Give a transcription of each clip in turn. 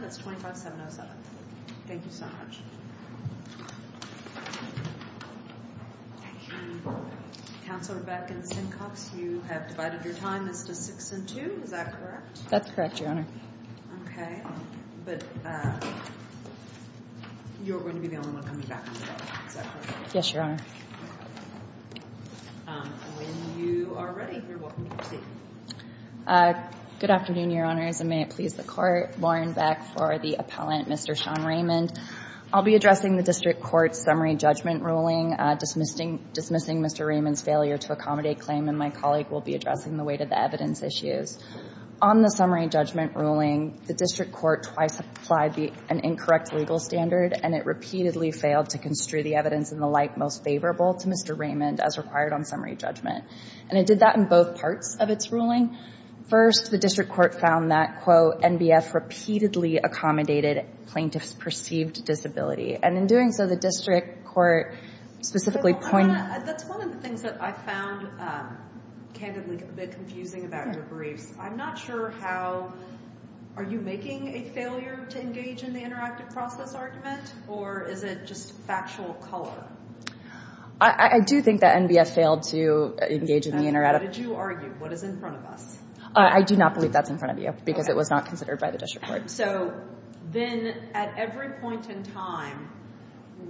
That's 25,707. Thank you so much. Councilor Beck and Stencox, you have divided your time into 6 and 2, is that correct? That's correct, Your Honor. Okay, but you're going to be the only one coming back, is that correct? Yes, Your Honor. When you are ready, you're welcome to proceed. Good afternoon, Your Honors, and may it please the Court. Lauren Beck for the appellant, Mr. Sean Raymond. I'll be addressing the district court's summary judgment ruling, dismissing Mr. Raymond's failure to accommodate claim, and my colleague will be addressing the weight of the evidence issues. On the summary judgment ruling, the district court twice applied an incorrect legal standard, and it repeatedly failed to construe the evidence in the light most favorable to Mr. Raymond as required on summary judgment. And it did that in both parts of its ruling. First, the district court found that, quote, NBF repeatedly accommodated plaintiff's perceived disability. And in doing so, the district court specifically pointed— That's one of the things that I found candidly a bit confusing about your briefs. I'm not sure how—are you making a failure to engage in the interactive process argument, or is it just factual color? I do think that NBF failed to engage in the interactive— What did you argue? What is in front of us? I do not believe that's in front of you, because it was not considered by the district court. So then at every point in time,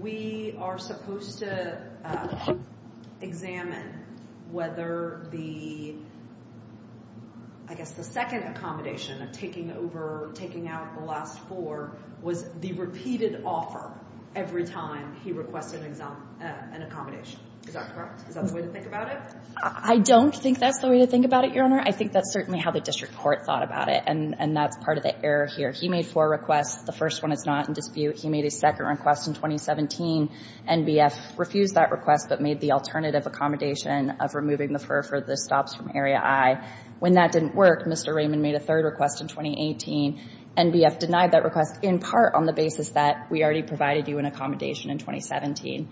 we are supposed to examine whether the—I guess the second accommodation of taking over, taking out the last four, was the repeated offer every time he requested an accommodation. Is that correct? Is that the way to think about it? I don't think that's the way to think about it, Your Honor. I think that's certainly how the district court thought about it, and that's part of the error here. He made four requests. The first one is not in dispute. He made a second request in 2017. NBF refused that request but made the alternative accommodation of removing the FER for the stops from Area I. When that didn't work, Mr. Raymond made a third request in 2018. NBF denied that request in part on the basis that we already provided you an accommodation in 2017.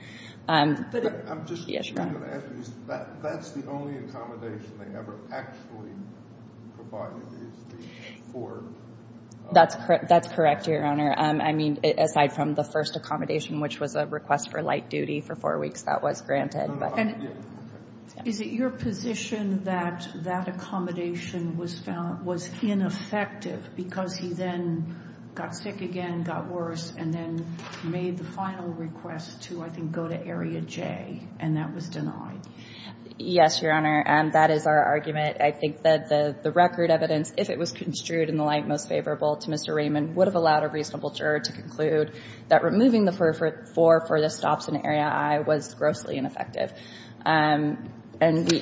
But I'm just— Yes, Your Honor. That's the only accommodation they ever actually provided is the four. That's correct, Your Honor. I mean, aside from the first accommodation, which was a request for light duty for four weeks, that was granted. Is it your position that that accommodation was ineffective because he then got sick again, got worse, and then made the final request to, I think, go to Area J, and that was denied? Yes, Your Honor. That is our argument. I think that the record evidence, if it was construed in the light most favorable to Mr. Raymond, would have allowed a reasonable juror to conclude that removing the FER for the stops in Area I was grossly ineffective. And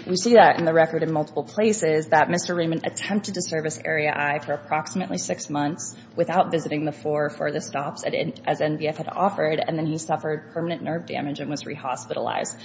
we see that in the record in multiple places that Mr. Raymond attempted to service Area I for approximately six months without visiting the four for the stops as NBF had offered, and then he suffered permanent nerve damage and was re-hospitalized.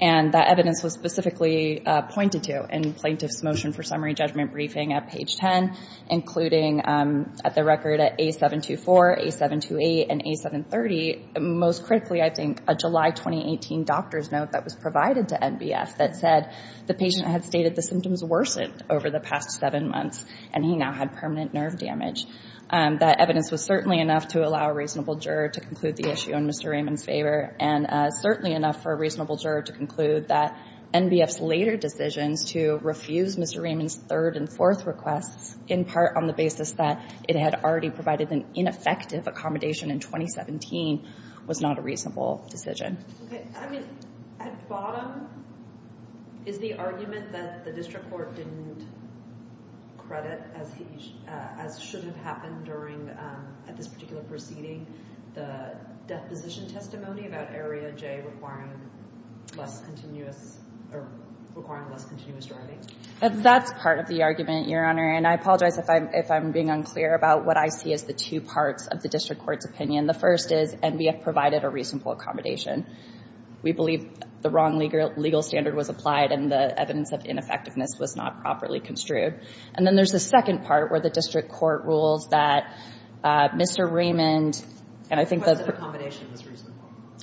And that evidence was specifically pointed to in Plaintiff's Motion for Summary Judgment Briefing at page 10, including at the record at A724, A728, and A730, most critically, I think, a July 2018 doctor's note that was provided to NBF that said the patient had stated the symptoms worsened over the past seven months, and he now had permanent nerve damage. That evidence was certainly enough to allow a reasonable juror to conclude the issue in Mr. Raymond's favor and certainly enough for a reasonable juror to conclude that NBF's later decisions to refuse Mr. Raymond's third and fourth requests, in part on the basis that it had already provided an ineffective accommodation in 2017, was not a reasonable decision. Okay. I mean, at bottom, is the argument that the district court didn't credit, as should have happened during, at this particular proceeding, the deposition testimony about Area J requiring less continuous, or requiring less continuous driving? That's part of the argument, Your Honor. And I apologize if I'm being unclear about what I see as the two parts of the district court's opinion. The first is NBF provided a reasonable accommodation. We believe the wrong legal standard was applied, and the evidence of ineffectiveness was not properly construed. And then there's the second part, where the district court rules that Mr. Raymond, and I think the – Was that accommodation was reasonable?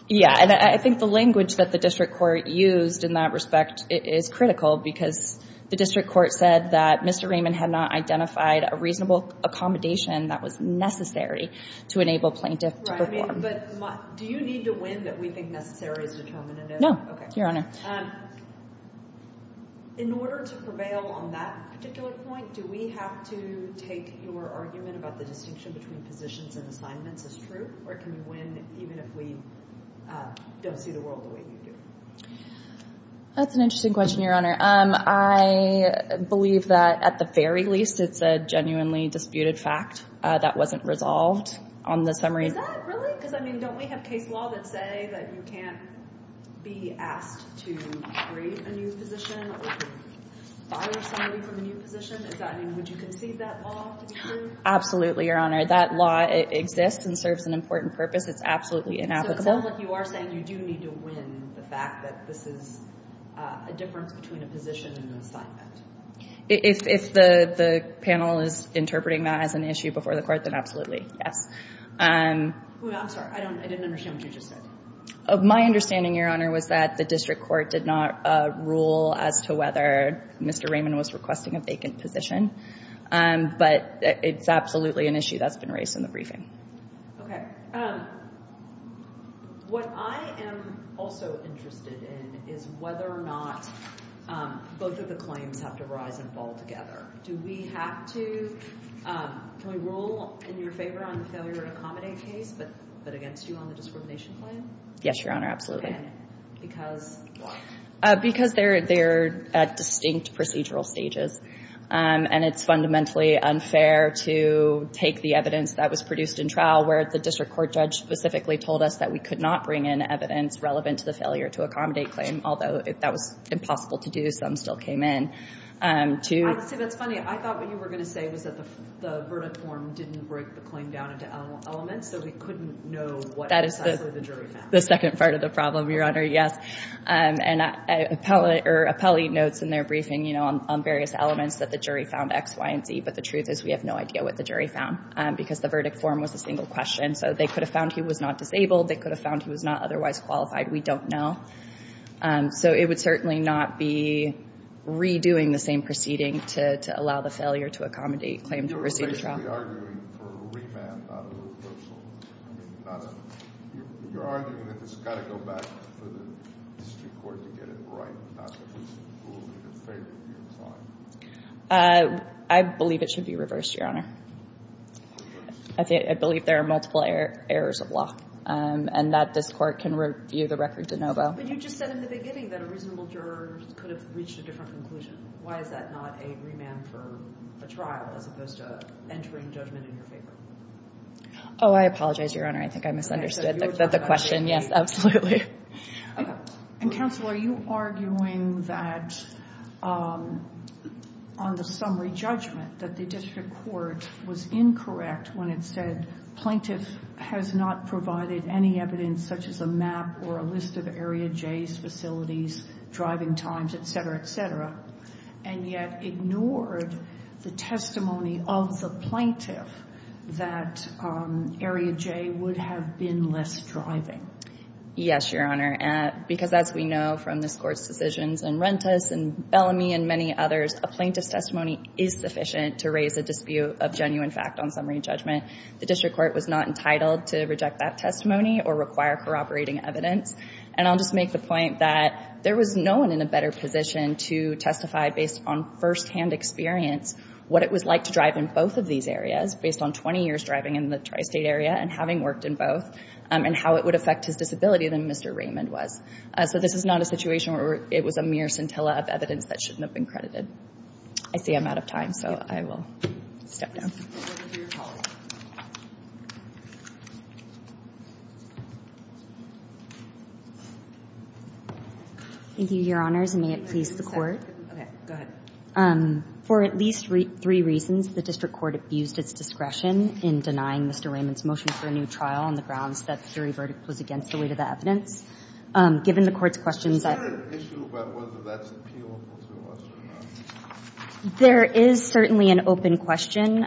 Yeah. And I think the language that the district court used in that respect is critical, because the district court said that Mr. Raymond had not identified a reasonable accommodation that was necessary to enable plaintiff to perform. Right. I mean, but do you need to win that we think necessary is determinative? No. Your Honor. Okay. In order to prevail on that particular point, do we have to take your argument about the distinction between positions and assignments as true? Or can you win even if we don't see the world the way you do? That's an interesting question, Your Honor. I believe that, at the very least, it's a genuinely disputed fact that wasn't resolved on the summary. Is that really? Because, I mean, don't we have case law that say that you can't be asked to create a new position or fire somebody from a new position? Is that – I mean, would you concede that law to be true? Absolutely, Your Honor. That law exists and serves an important purpose. It's absolutely inapplicable. So it sounds like you are saying you do need to win the fact that this is a difference between a position and an assignment. If the panel is interpreting that as an issue before the court, then absolutely, yes. I'm sorry. I didn't understand what you just said. My understanding, Your Honor, was that the district court did not rule as to whether Mr. Raymond was requesting a vacant position. But it's absolutely an issue that's been raised in the briefing. Okay. What I am also interested in is whether or not both of the claims have to rise and fall together. Do we have to – can we rule in your favor on the failure to accommodate case, but against you on the discrimination claim? Yes, Your Honor, absolutely. And because why? Because they're at distinct procedural stages. And it's fundamentally unfair to take the evidence that was produced in trial, where the district court judge specifically told us that we could not bring in evidence relevant to the failure to accommodate claim, although that was impossible to do. Some still came in. Honestly, that's funny. I thought what you were going to say was that the verdict form didn't break the claim down into elements, so we couldn't know what exactly the jury found. That is the second part of the problem, Your Honor, yes. And an appellee notes in their briefing, you know, on various elements that the jury found X, Y, and Z. But the truth is we have no idea what the jury found because the verdict form was a single question. So they could have found he was not disabled. They could have found he was not otherwise qualified. We don't know. So it would certainly not be redoing the same proceeding to allow the failure to accommodate claim to proceed to trial. I believe it should be reversed, Your Honor. I believe there are multiple errors of law and that this Court can review the record de novo. But you just said in the beginning that a reasonable juror could have reached a different conclusion. Why is that not a remand for a trial as opposed to entering judgment in your favor? Oh, I apologize, Your Honor. I think I misunderstood the question. Yes, absolutely. And, Counselor, are you arguing that on the summary judgment that the district court was incorrect when it said has not provided any evidence such as a map or a list of Area J's facilities, driving times, et cetera, et cetera, and yet ignored the testimony of the plaintiff that Area J would have been less driving? Yes, Your Honor. Because as we know from this Court's decisions in Rentas and Bellamy and many others, a plaintiff's testimony is sufficient to raise a dispute of genuine fact on summary judgment. The district court was not entitled to reject that testimony or require corroborating evidence. And I'll just make the point that there was no one in a better position to testify based on firsthand experience what it was like to drive in both of these areas based on 20 years driving in the tri-state area and having worked in both and how it would affect his disability than Mr. Raymond was. So this is not a situation where it was a mere scintilla of evidence that shouldn't have been credited. I see I'm out of time, so I will step down. Thank you, Your Honors, and may it please the Court. Okay, go ahead. For at least three reasons, the district court abused its discretion in denying Mr. Raymond's motion for a new trial on the grounds that the jury verdict was against the weight of the evidence. Is there an issue about whether that's appealable to us or not? There is certainly an open question.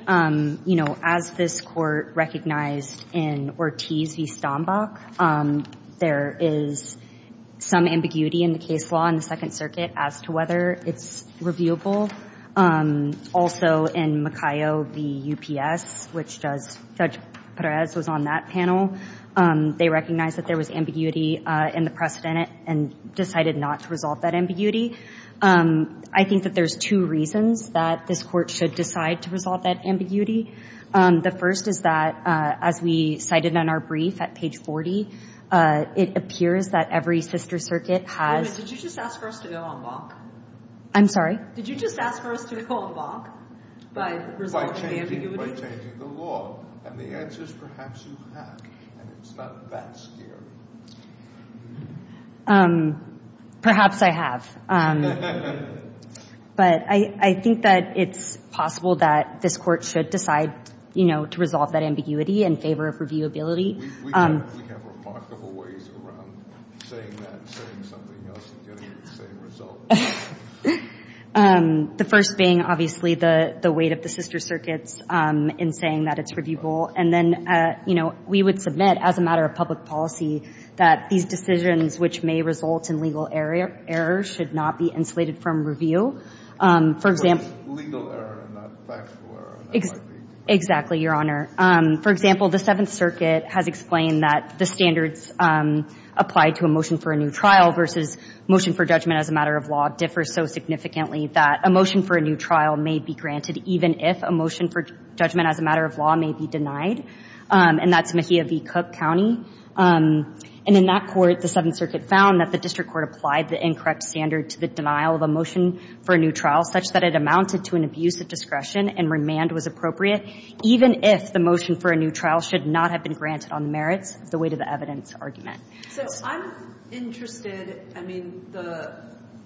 You know, as this Court recognized in Ortiz v. Stombach, there is some ambiguity in the case law in the Second Circuit as to whether it's reviewable. Also in Macayo v. UPS, which Judge Perez was on that panel, they recognized that there was ambiguity in the precedent and decided not to resolve that ambiguity. I think that there's two reasons that this Court should decide to resolve that ambiguity. The first is that, as we cited in our brief at page 40, it appears that every sister circuit has— Wait a minute. Did you just ask for us to go on bonk? I'm sorry? Did you just ask for us to go on bonk by resolving the ambiguity? And the answer is perhaps you have, and it's not that scary. Perhaps I have. But I think that it's possible that this Court should decide, you know, to resolve that ambiguity in favor of reviewability. We have remarkable ways around saying that and saying something else and getting the same result. The first being, obviously, the weight of the sister circuits in saying that it's reviewable. And then, you know, we would submit as a matter of public policy that these decisions which may result in legal error should not be insulated from review. For example— Legal error, not factual error. Exactly, Your Honor. For example, the Seventh Circuit has explained that the standards applied to a motion for judgment as a matter of law differ so significantly that a motion for a new trial may be granted even if a motion for judgment as a matter of law may be denied. And that's Mejia v. Cook County. And in that court, the Seventh Circuit found that the district court applied the incorrect standard to the denial of a motion for a new trial such that it amounted to an abuse of discretion and remand was appropriate even if the motion for a new trial should not have been granted on the merits of the weight of the evidence argument. So I'm interested—I mean,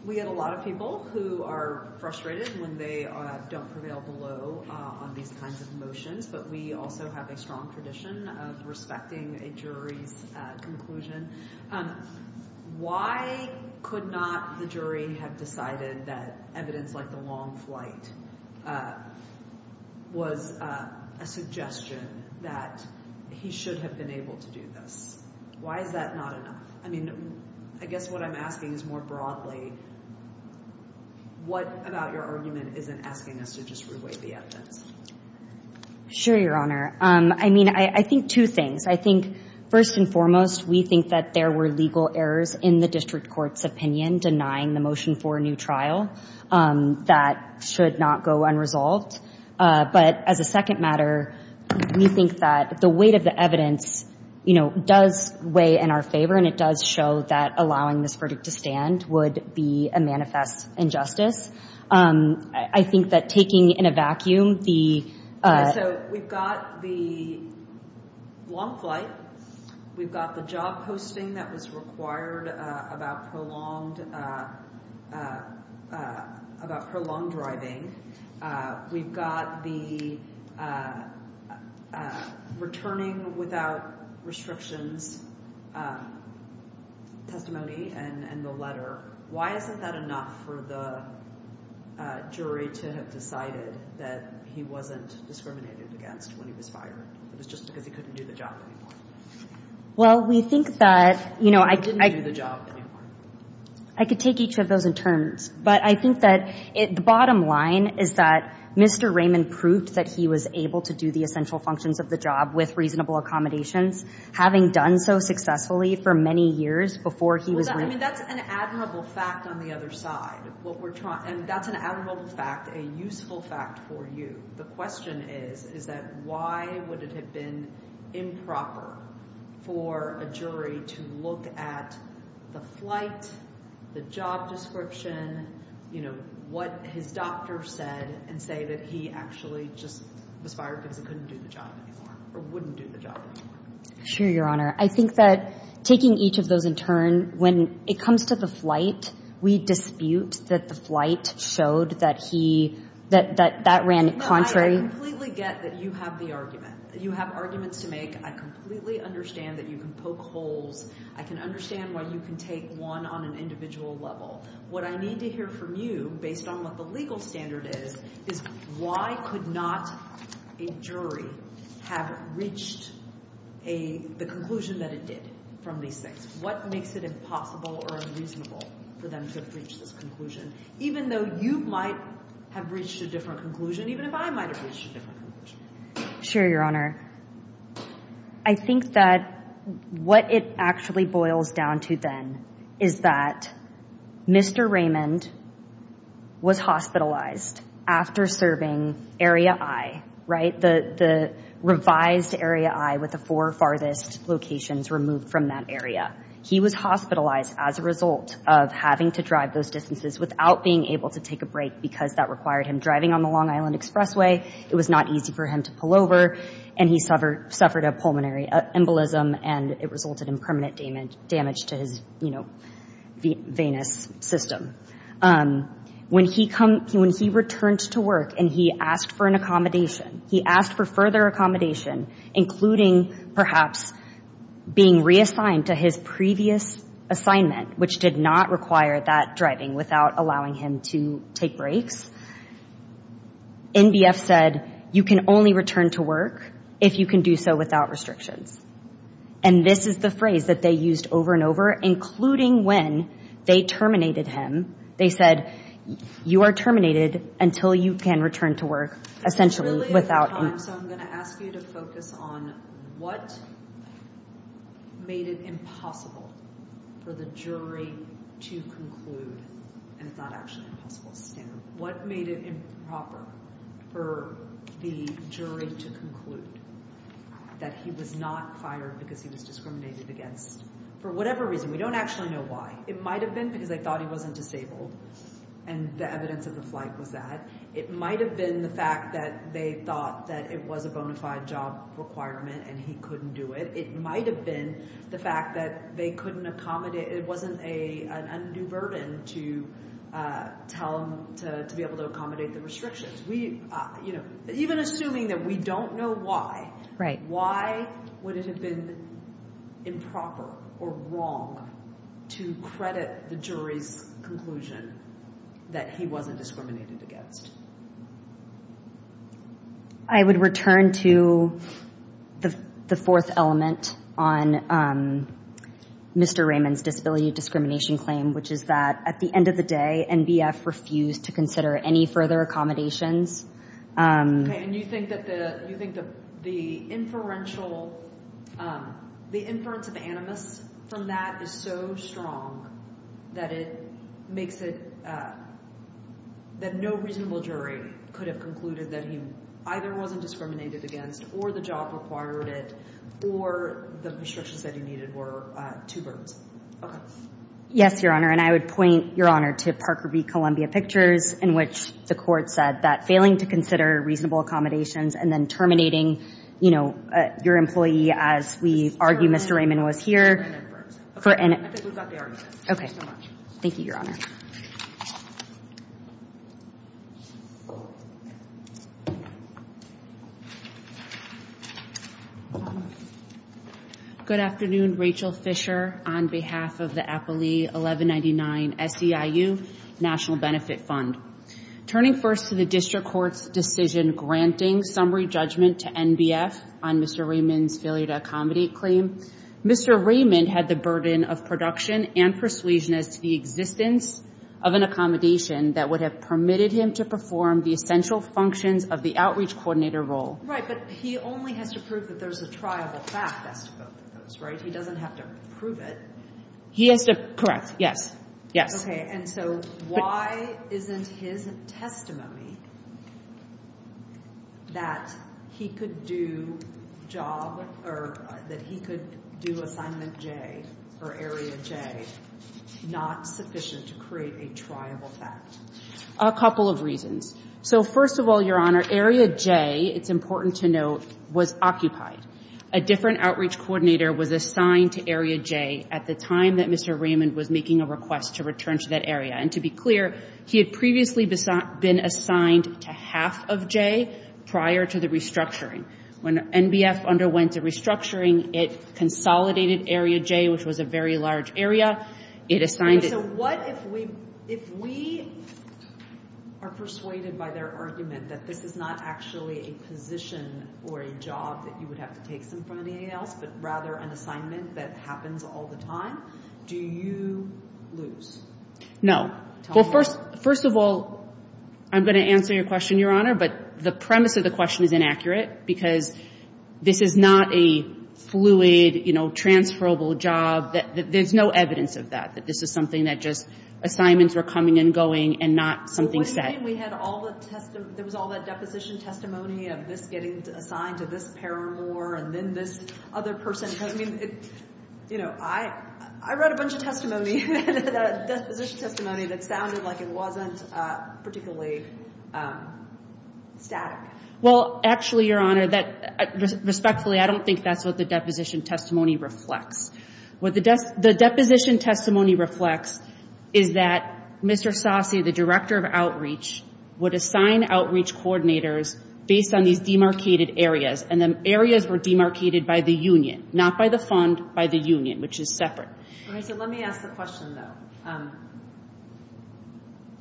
we get a lot of people who are frustrated when they don't prevail below on these kinds of motions, but we also have a strong tradition of respecting a jury's conclusion. Why could not the jury have decided that evidence like the long flight was a suggestion that he should have been able to do this? Why is that not enough? I mean, I guess what I'm asking is more broadly, what about your argument isn't asking us to just re-weight the evidence? Sure, Your Honor. I mean, I think two things. I think, first and foremost, we think that there were legal errors in the district court's opinion denying the motion for a new trial that should not go unresolved. But as a second matter, we think that the weight of the evidence, you know, does weigh in our favor and it does show that allowing this verdict to stand would be a manifest injustice. I think that taking in a vacuum the— So we've got the long flight. We've got the job posting that was required about prolonged driving. We've got the returning without restrictions testimony and the letter. Why isn't that enough for the jury to have decided that he wasn't discriminated against when he was fired? It was just because he couldn't do the job anymore. Well, we think that— He didn't do the job anymore. I could take each of those in turns. But I think that the bottom line is that Mr. Raymond proved that he was able to do the essential functions of the job with reasonable accommodations, having done so successfully for many years before he was— Well, I mean, that's an admirable fact on the other side of what we're trying— I mean, that's an admirable fact, a useful fact for you. The question is, is that why would it have been improper for a jury to look at the flight, the job description, what his doctor said and say that he actually just was fired because he couldn't do the job anymore or wouldn't do the job anymore? Sure, Your Honor. I think that taking each of those in turn, when it comes to the flight, we dispute that the flight showed that he—that that ran contrary— No, I completely get that you have the argument. You have arguments to make. I completely understand that you can poke holes. I can understand why you can take one on an individual level. What I need to hear from you, based on what the legal standard is, is why could not a jury have reached the conclusion that it did from these things? What makes it impossible or unreasonable for them to have reached this conclusion, even though you might have reached a different conclusion, even if I might have reached a different conclusion? Sure, Your Honor. I think that what it actually boils down to then is that Mr. Raymond was hospitalized after serving Area I, right? The revised Area I with the four farthest locations removed from that area. He was hospitalized as a result of having to drive those distances without being able to take a break because that required him driving on the Long Island Expressway. It was not easy for him to pull over, and he suffered a pulmonary embolism, and it resulted in permanent damage to his, you know, venous system. When he returned to work and he asked for an accommodation, he asked for further accommodation, including perhaps being reassigned to his previous assignment, which did not require that driving without allowing him to take breaks, NBF said, you can only return to work if you can do so without restrictions. And this is the phrase that they used over and over, including when they terminated him. They said, you are terminated until you can return to work, essentially, without. So I'm going to ask you to focus on what made it impossible for the jury to conclude, and it's not actually an impossible stand, what made it improper for the jury to conclude that he was not fired because he was discriminated against? For whatever reason, we don't actually know why. It might have been because they thought he wasn't disabled, and the evidence of the flight was that. It might have been the fact that they thought that it was a bona fide job requirement and he couldn't do it. It might have been the fact that they couldn't accommodate. It wasn't an undue burden to tell them to be able to accommodate the restrictions. Even assuming that we don't know why, why would it have been improper or wrong to credit the jury's conclusion that he wasn't discriminated against? I would return to the fourth element on Mr. Raymond's disability discrimination claim, which is that at the end of the day, NBF refused to consider any further accommodations. And you think that the inference of animus from that is so strong that it makes it— that no reasonable jury could have concluded that he either wasn't discriminated against or the job required it or the restrictions that he needed were too burdensome? Yes, Your Honor. And I would point, Your Honor, to Parker v. Columbia Pictures, in which the court said that failing to consider reasonable accommodations and then terminating, you know, your employee as we argue Mr. Raymond was here for— I think we've got the argument. Okay. Thank you, Your Honor. Thank you, Your Honor. Good afternoon. Rachel Fisher on behalf of the Appley 1199 SEIU National Benefit Fund. Turning first to the district court's decision granting summary judgment to NBF on Mr. Raymond's failure to accommodate claim, Mr. Raymond had the burden of production and persuasion as to the existence of an accommodation that would have permitted him to perform the essential functions of the outreach coordinator role. Right, but he only has to prove that there's a triable fact as to both of those, right? He doesn't have to prove it. He has to—correct. Yes. Yes. Okay, and so why isn't his testimony that he could do job or that he could do assignment J or area J not sufficient to create a triable fact? A couple of reasons. So, first of all, Your Honor, area J, it's important to note, was occupied. A different outreach coordinator was assigned to area J at the time that Mr. Raymond was making a request to return to that area. And to be clear, he had previously been assigned to half of J prior to the restructuring. When NBF underwent the restructuring, it consolidated area J, which was a very large area. It assigned it— But if we—if we are persuaded by their argument that this is not actually a position or a job that you would have to take something from anybody else, but rather an assignment that happens all the time, do you lose? No. Well, first of all, I'm going to answer your question, Your Honor, but the premise of the question is inaccurate because this is not a fluid, you know, transferable job. There's no evidence of that, that this is something that just assignments were coming and going and not something set. So what do you mean we had all the—there was all that deposition testimony of this getting assigned to this paramour and then this other person? I mean, you know, I read a bunch of testimony, deposition testimony, that sounded like it wasn't particularly static. Well, actually, Your Honor, respectfully, I don't think that's what the deposition testimony reflects. What the deposition testimony reflects is that Mr. Sasse, the director of outreach, would assign outreach coordinators based on these demarcated areas, and the areas were demarcated by the union, not by the fund, by the union, which is separate. All right. So let me ask the question, though.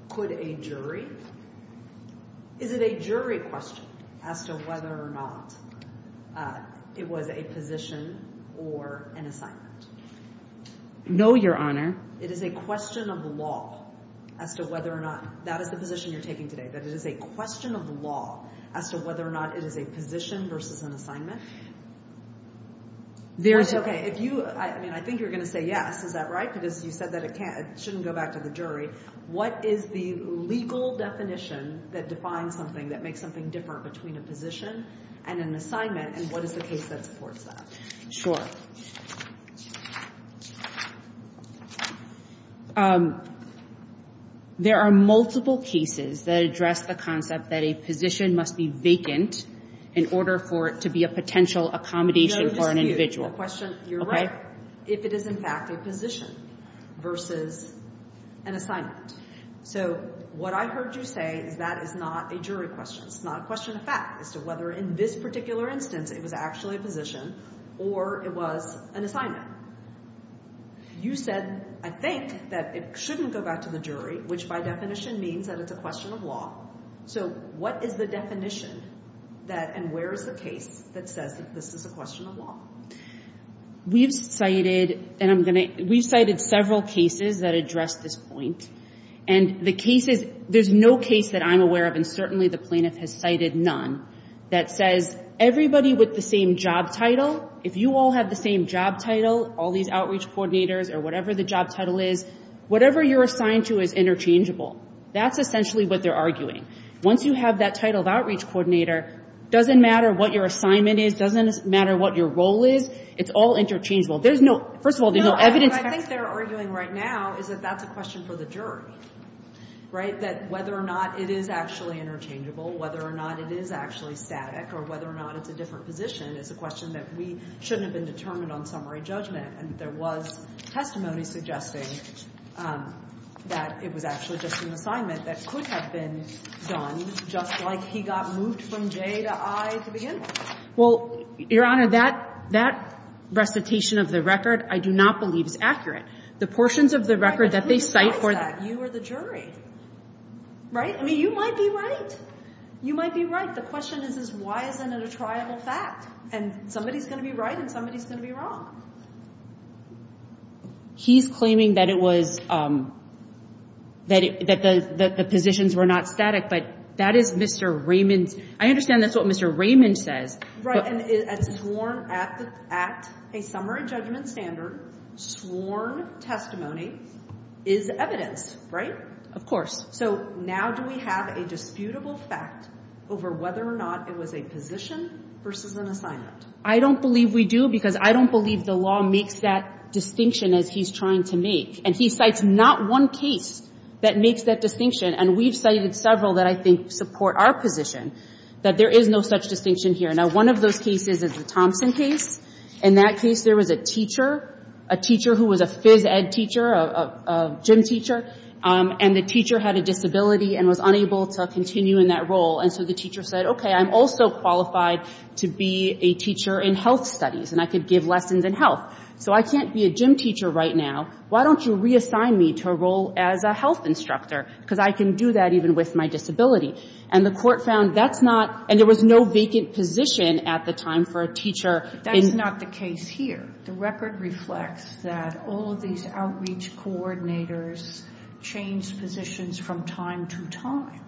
Could a jury—is it a jury question as to whether or not it was a position or an assignment? No, Your Honor. It is a question of law as to whether or not—that is the position you're taking today, that it is a question of law as to whether or not it is a position versus an assignment? There's— Okay, if you—I mean, I think you're going to say yes. Is that right? Because you said that it can't—it shouldn't go back to the jury. What is the legal definition that defines something, that makes something different between a position and an assignment, and what is the case that supports that? Sure. There are multiple cases that address the concept that a position must be vacant in order for it to be a potential accommodation for an individual. The question—you're right—if it is, in fact, a position versus an assignment. So what I heard you say is that is not a jury question. It's not a question of fact as to whether, in this particular instance, it was actually a position or it was an assignment. You said, I think, that it shouldn't go back to the jury, which, by definition, means that it's a question of law. So what is the definition that—and where is the case that says this is a question of law? We've cited—and I'm going to—we've cited several cases that address this point. And the cases—there's no case that I'm aware of, and certainly the plaintiff has cited none, that says everybody with the same job title, if you all have the same job title, all these outreach coordinators, or whatever the job title is, whatever you're assigned to is interchangeable. That's essentially what they're arguing. Once you have that title of outreach coordinator, doesn't matter what your assignment is, doesn't matter what your role is, it's all interchangeable. There's no—first of all, there's no evidence— No, what I think they're arguing right now is that that's a question for the jury, right? That whether or not it is actually interchangeable, whether or not it is actually static, or whether or not it's a different position, is a question that we shouldn't have been determined on summary judgment. And there was testimony suggesting that it was actually just an assignment that could have been done just like he got moved from J to I to begin with. Well, Your Honor, that recitation of the record I do not believe is accurate. The portions of the record that they cite for— But who decides that? You or the jury, right? I mean, you might be right. You might be right. The question is, is why isn't it a triable fact? And somebody's going to be right and somebody's going to be wrong. He's claiming that it was—that the positions were not static, but that is Mr. Raymond's— I understand that's what Mr. Raymond says. Right, and sworn at a summary judgment standard, sworn testimony is evidence, right? Of course. So now do we have a disputable fact over whether or not it was a position versus an assignment? I don't believe we do because I don't believe the law makes that distinction as he's trying to make. And he cites not one case that makes that distinction. And we've cited several that I think support our position, that there is no such distinction here. Now, one of those cases is the Thompson case. In that case, there was a teacher, a teacher who was a phys ed teacher, a gym teacher, and the teacher had a disability and was unable to continue in that role. And so the teacher said, okay, I'm also qualified to be a teacher in health studies, and I could give lessons in health. So I can't be a gym teacher right now. Why don't you reassign me to a role as a health instructor because I can do that even with my disability? And the Court found that's not—and there was no vacant position at the time for a teacher in— That's not the case here. The record reflects that all of these outreach coordinators changed positions from time to time.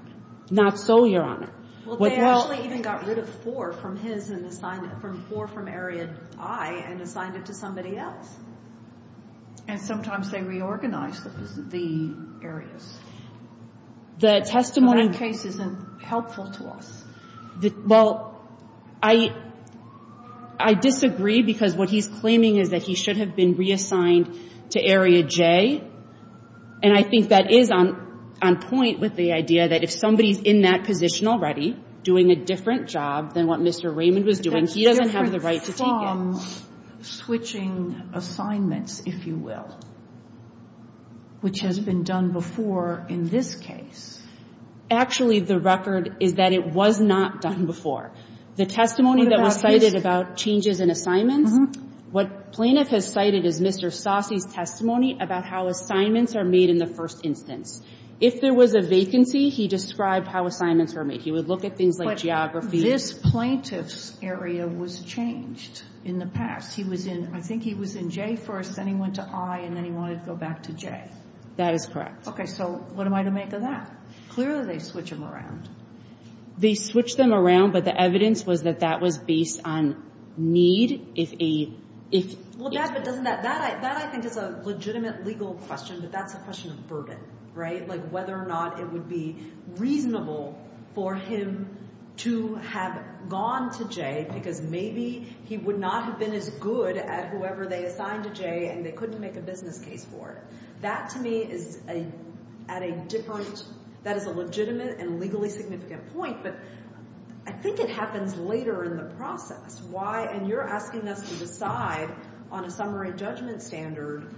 Not so, Your Honor. Well, they actually even got rid of four from his and assigned—four from Area I and assigned it to somebody else. And sometimes they reorganize the areas. The testimony— That case isn't helpful to us. Well, I disagree because what he's claiming is that he should have been reassigned to Area J. And I think that is on point with the idea that if somebody is in that position already doing a different job than what Mr. Raymond was doing, he doesn't have the right to take it. But that's different from switching assignments, if you will, which has been done before in this case. Actually, the record is that it was not done before. The testimony that was cited about changes in assignments, what plaintiff has cited is Mr. Saucy's testimony about how assignments are made in the first instance. If there was a vacancy, he described how assignments were made. He would look at things like geography. But this plaintiff's area was changed in the past. He was in—I think he was in J first, then he went to I, and then he wanted to go back to J. That is correct. Okay. So what am I to make of that? Clearly they switch them around. They switch them around, but the evidence was that that was based on need. Well, that, I think, is a legitimate legal question, but that's a question of burden, right? Like whether or not it would be reasonable for him to have gone to J because maybe he would not have been as good at whoever they assigned to J and they couldn't make a business case for it. That, to me, is at a different—that is a legitimate and legally significant point, but I think it happens later in the process. Why—and you're asking us to decide on a summary judgment standard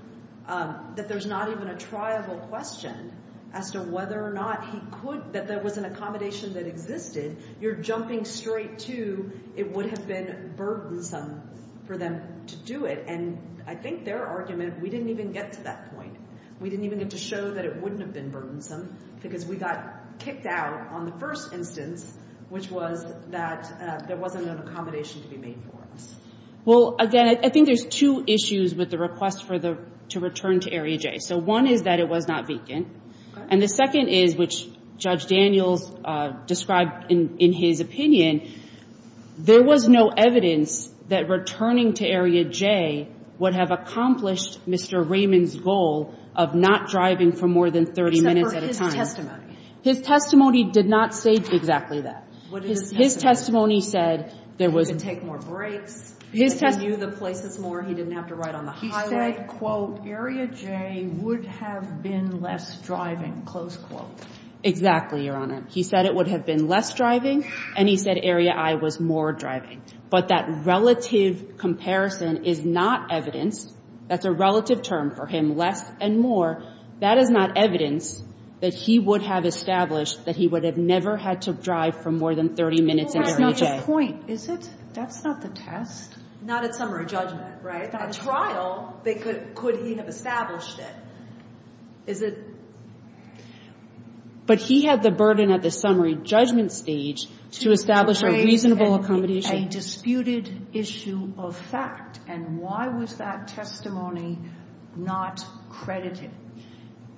that there's not even a triable question as to whether or not he could— that there was an accommodation that existed. You're jumping straight to it would have been burdensome for them to do it. And I think their argument, we didn't even get to that point. We didn't even get to show that it wouldn't have been burdensome because we got kicked out on the first instance, which was that there wasn't an accommodation to be made for us. Well, again, I think there's two issues with the request to return to Area J. So one is that it was not vacant. And the second is, which Judge Daniels described in his opinion, there was no evidence that returning to Area J would have accomplished Mr. Raymond's goal of not driving for more than 30 minutes at a time. Except for his testimony. His testimony did not say exactly that. His testimony said there was— He could take more breaks. He knew the places more. He didn't have to ride on the highway. He said, quote, Area J would have been less driving, close quote. Exactly, Your Honor. He said it would have been less driving, and he said Area I was more driving. But that relative comparison is not evidence. That's a relative term for him, less and more. That is not evidence that he would have established that he would have never had to drive for more than 30 minutes in Area J. That's not his point, is it? That's not the test. Not at summary judgment, right? At trial, could he have established it? Is it— But he had the burden at the summary judgment stage to establish a reasonable accommodation. It's a disputed issue of fact. And why was that testimony not credited?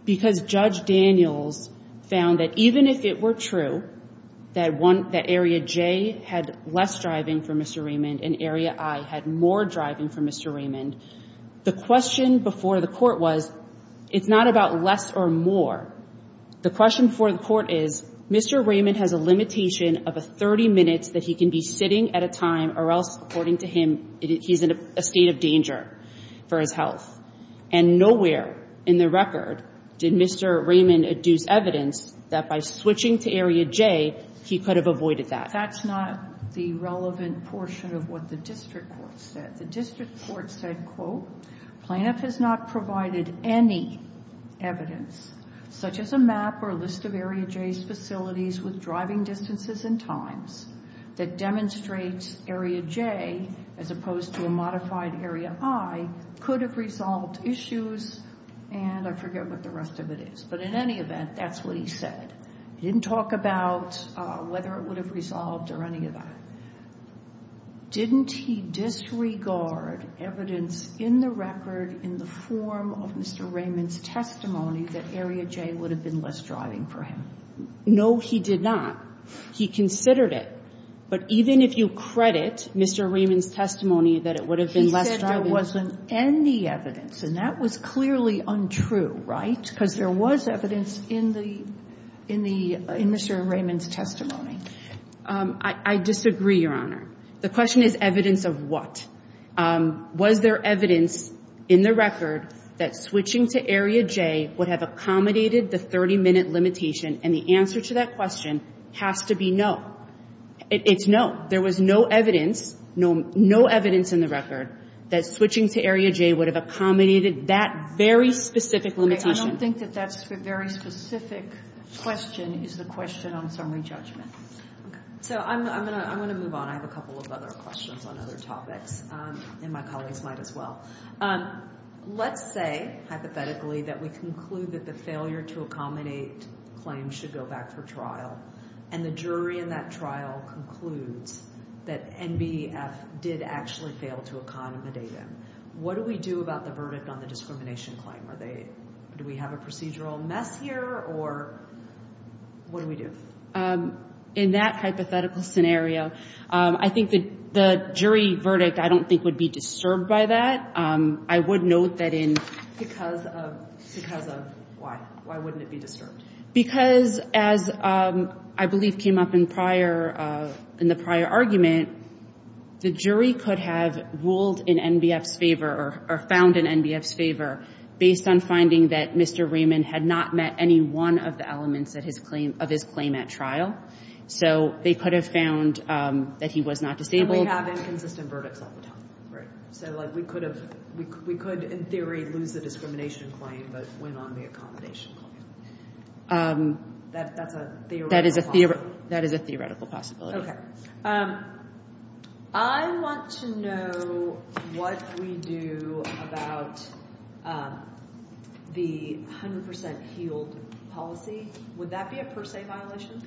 Because Judge Daniels found that even if it were true that Area J had less driving for Mr. Raymond and Area I had more driving for Mr. Raymond, the question before the court was, it's not about less or more. The question before the court is, Mr. Raymond has a limitation of 30 minutes that he can be sitting at a time or else, according to him, he's in a state of danger for his health. And nowhere in the record did Mr. Raymond adduce evidence that by switching to Area J, he could have avoided that. That's not the relevant portion of what the district court said. The district court said, quote, Plaintiff has not provided any evidence, such as a map or a list of Area J's facilities with driving distances and times, that demonstrates Area J, as opposed to a modified Area I, could have resolved issues. And I forget what the rest of it is. But in any event, that's what he said. He didn't talk about whether it would have resolved or any of that. Didn't he disregard evidence in the record, in the form of Mr. Raymond's testimony, that Area J would have been less driving for him? No, he did not. He considered it. But even if you credit Mr. Raymond's testimony that it would have been less driving He said there wasn't any evidence. And that was clearly untrue, right? Because there was evidence in the Mr. Raymond's testimony. I disagree, Your Honor. The question is evidence of what? Was there evidence in the record that switching to Area J would have accommodated the 30-minute limitation? And the answer to that question has to be no. It's no. There was no evidence, no evidence in the record, that switching to Area J would have accommodated that very specific limitation. I don't think that that's a very specific question. It's a question on summary judgment. So I'm going to move on. I have a couple of other questions on other topics. And my colleagues might as well. Let's say, hypothetically, that we conclude that the failure to accommodate claims should go back for trial, and the jury in that trial concludes that NBEF did actually fail to accommodate him. What do we do about the verdict on the discrimination claim? Do we have a procedural mess here, or what do we do? In that hypothetical scenario, I think the jury verdict I don't think would be disturbed by that. I would note that in. Because of why? Why wouldn't it be disturbed? Because as I believe came up in the prior argument, the jury could have ruled in NBEF's favor or found in NBEF's favor, based on finding that Mr. Raymond had not met any one of the elements of his claim at trial. So they could have found that he was not disabled. And we have inconsistent verdicts all the time. Right. So, like, we could, in theory, lose the discrimination claim, but win on the accommodation claim. That's a theoretical possibility. That is a theoretical possibility. Okay. I want to know what we do about the 100% healed policy. Would that be a per se violation?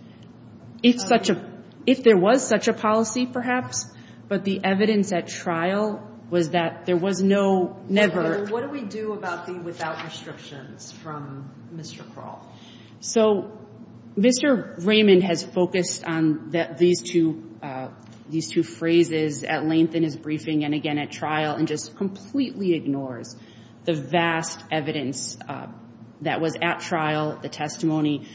If there was such a policy, perhaps. But the evidence at trial was that there was no, never. What do we do about the without restrictions from Mr. Kroll? So, Mr. Raymond has focused on these two phrases at length in his briefing and, again, at trial, and just completely ignores the vast evidence that was at trial, the testimony,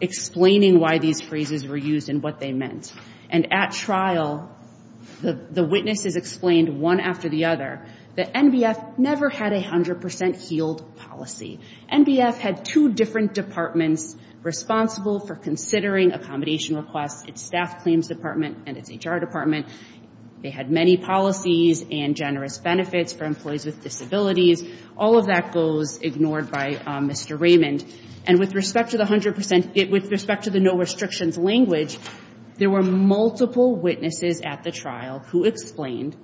explaining why these phrases were used and what they meant. And at trial, the witnesses explained, one after the other, that NBEF never had a 100% healed policy. NBEF had two different departments responsible for considering accommodation requests, its Staff Claims Department and its HR Department. They had many policies and generous benefits for employees with disabilities. All of that goes ignored by Mr. Raymond. And with respect to the 100%, with respect to the no restrictions language, there were multiple witnesses at the trial who explained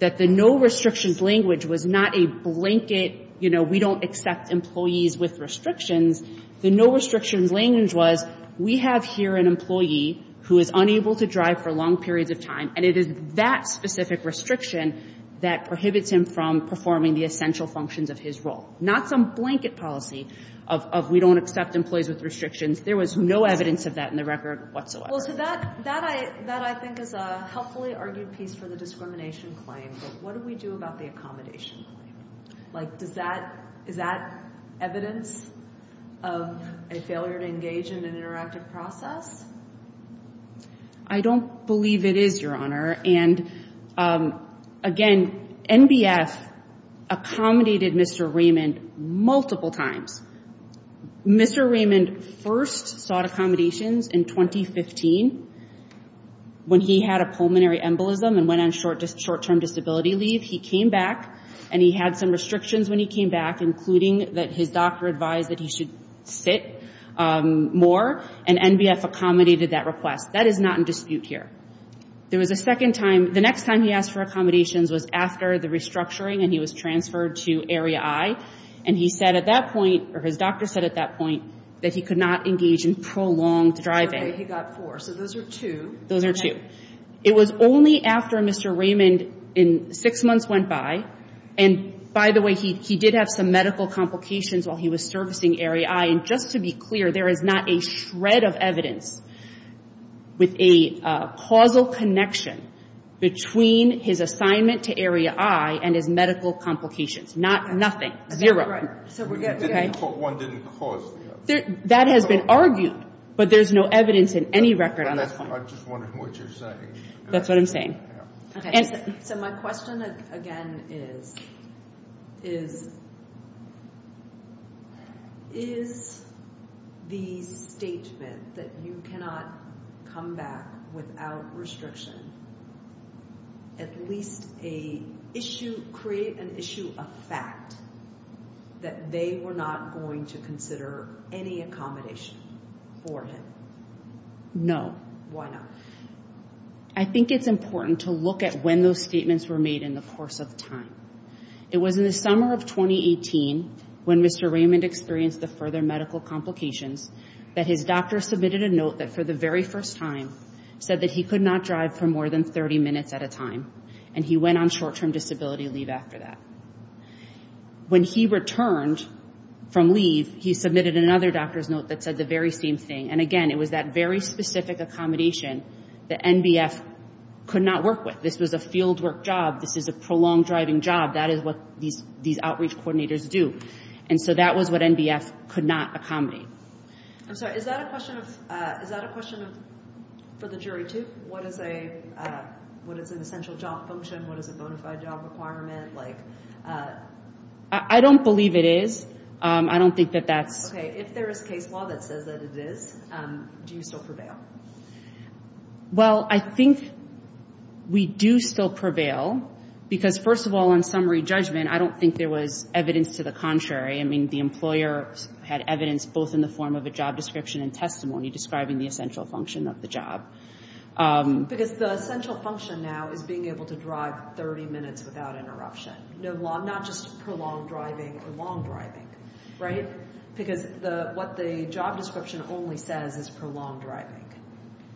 that the no restrictions language was not a blanket, you know, we don't accept employees with restrictions. The no restrictions language was, we have here an employee who is unable to drive for long periods of time, and it is that specific restriction that prohibits him from performing the essential functions of his role. Not some blanket policy of we don't accept employees with restrictions. There was no evidence of that in the record whatsoever. Well, so that I think is a helpfully argued piece for the discrimination claim. But what do we do about the accommodation claim? Like, is that evidence of a failure to engage in an interactive process? I don't believe it is, Your Honor. And again, NBEF accommodated Mr. Raymond multiple times. Mr. Raymond first sought accommodations in 2015 when he had a pulmonary embolism and went on short-term disability leave. He came back, and he had some restrictions when he came back, including that his doctor advised that he should sit more. And NBEF accommodated that request. That is not in dispute here. There was a second time, the next time he asked for accommodations was after the restructuring and he was transferred to Area I. And he said at that point, or his doctor said at that point, that he could not engage in prolonged driving. Okay, he got four. So those are two. Those are two. It was only after Mr. Raymond, in six months, went by. And, by the way, he did have some medical complications while he was servicing Area I. And just to be clear, there is not a shred of evidence with a causal connection between his assignment to Area I and his medical complications. Nothing. Zero. One didn't cause the other. That has been argued, but there's no evidence in any record on that point. I'm just wondering what you're saying. That's what I'm saying. So my question, again, is, is the statement that you cannot come back without restriction at least create an issue of fact that they were not going to consider any accommodation for him? No. Why not? I think it's important to look at when those statements were made in the course of time. It was in the summer of 2018 when Mr. Raymond experienced the further medical complications that his doctor submitted a note that, for the very first time, said that he could not drive for more than 30 minutes at a time. And he went on short-term disability leave after that. When he returned from leave, he submitted another doctor's note that said the very same thing. And, again, it was that very specific accommodation that NBF could not work with. This was a fieldwork job. This is a prolonged driving job. That is what these outreach coordinators do. And so that was what NBF could not accommodate. I'm sorry. Is that a question for the jury, too? What is an essential job function? What is a bona fide job requirement? Like, I don't believe it is. I don't think that that's. Okay. If there is case law that says that it is, do you still prevail? Well, I think we do still prevail because, first of all, in summary judgment, I don't think there was evidence to the contrary. I mean, the employer had evidence both in the form of a job description and testimony describing the essential function of the job. Because the essential function now is being able to drive 30 minutes without interruption, not just prolonged driving or long driving, right? Because what the job description only says is prolonged driving.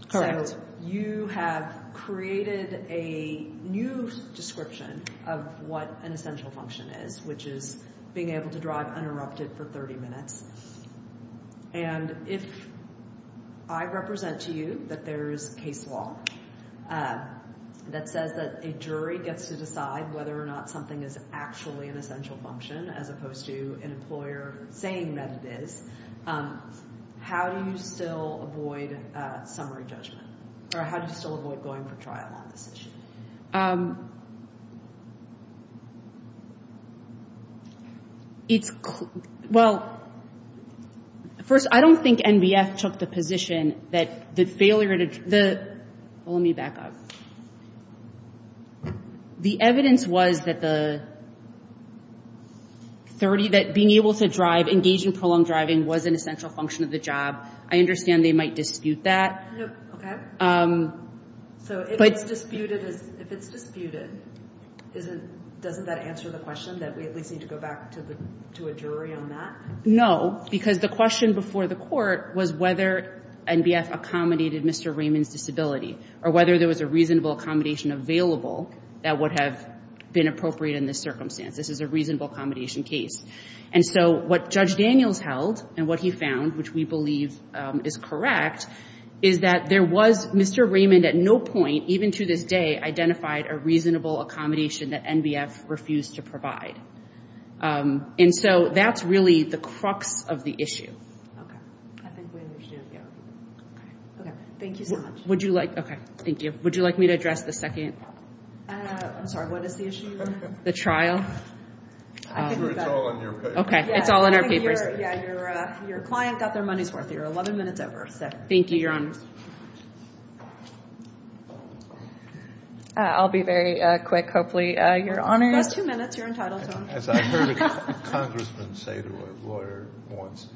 Correct. So you have created a new description of what an essential function is, which is being able to drive uninterrupted for 30 minutes. And if I represent to you that there is case law that says that a jury gets to decide whether or not something is actually an essential function as opposed to an employer saying that it is, how do you still avoid summary judgment? Or how do you still avoid going for trial on this issue? It's – well, first, I don't think NBF took the position that the failure to – well, let me back up. The evidence was that the 30 – that being able to drive, engage in prolonged driving, was an essential function of the job. I understand they might dispute that. Okay. So if it's disputed, doesn't that answer the question that we at least need to go back to a jury on that? No, because the question before the court was whether NBF accommodated Mr. Raymond's disability or whether there was a reasonable accommodation available that would have been appropriate in this circumstance. This is a reasonable accommodation case. And so what Judge Daniels held and what he found, which we believe is correct, is that there was – Mr. Raymond at no point, even to this day, identified a reasonable accommodation that NBF refused to provide. And so that's really the crux of the issue. Okay. I think we understand. Yeah. Okay. Okay. Thank you so much. Would you like – okay. Thank you. Would you like me to address the second – I'm sorry. What is the issue? The trial. It's all in your papers. Okay. It's all in our papers. Yeah. Your client got their money's worth. You're 11 minutes over. Thank you, Your Honor. I'll be very quick, hopefully, Your Honor. That's two minutes. You're entitled to them. As I heard a congressman say to a lawyer once,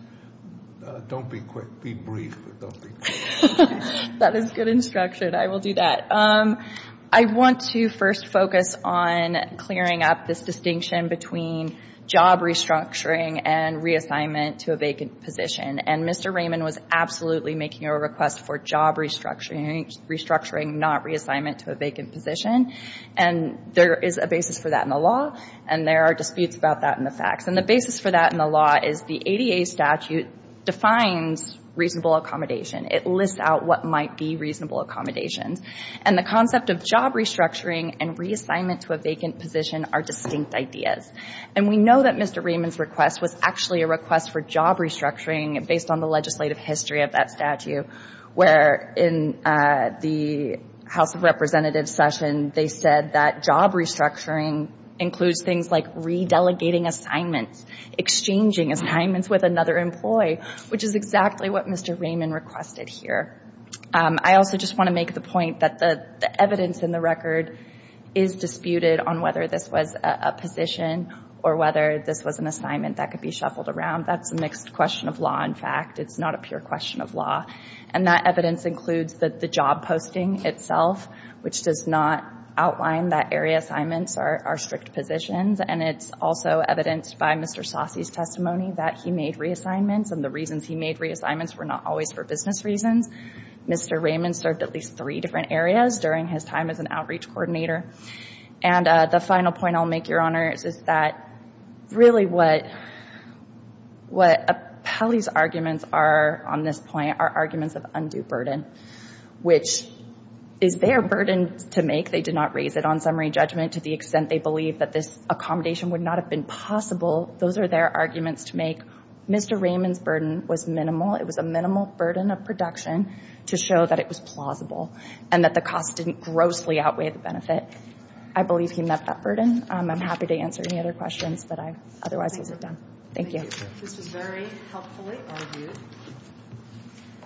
don't be quick, be brief, but don't be quick. That is good instruction. I will do that. I want to first focus on clearing up this distinction between job restructuring and reassignment to a vacant position. And Mr. Raymond was absolutely making a request for job restructuring, not reassignment to a vacant position. And there is a basis for that in the law, and there are disputes about that in the facts. And the basis for that in the law is the ADA statute defines reasonable accommodation. It lists out what might be reasonable accommodations. And the concept of job restructuring and reassignment to a vacant position are distinct ideas. And we know that Mr. Raymond's request was actually a request for job restructuring, based on the legislative history of that statute, where in the House of Representatives session, they said that job restructuring includes things like re-delegating assignments, exchanging assignments with another employee, which is exactly what Mr. Raymond requested here. I also just want to make the point that the evidence in the record is disputed on whether this was a position or whether this was an assignment that could be shuffled around. That's a mixed question of law, in fact. It's not a pure question of law. And that evidence includes the job posting itself, which does not outline that area assignments are strict positions. And it's also evidenced by Mr. Saucy's testimony that he made reassignments. And the reasons he made reassignments were not always for business reasons. Mr. Raymond served at least three different areas during his time as an outreach coordinator. And the final point I'll make, Your Honors, is that really what Appelli's arguments are on this point are arguments of undue burden, which is their burden to make. They did not raise it on summary judgment to the extent they believe that this accommodation would not have been possible. Those are their arguments to make. Mr. Raymond's burden was minimal. It was a minimal burden of production to show that it was plausible and that the cost didn't grossly outweigh the benefit. I believe he met that burden. I'm happy to answer any other questions, but I otherwise lose it then. Thank you. This was very helpfully argued.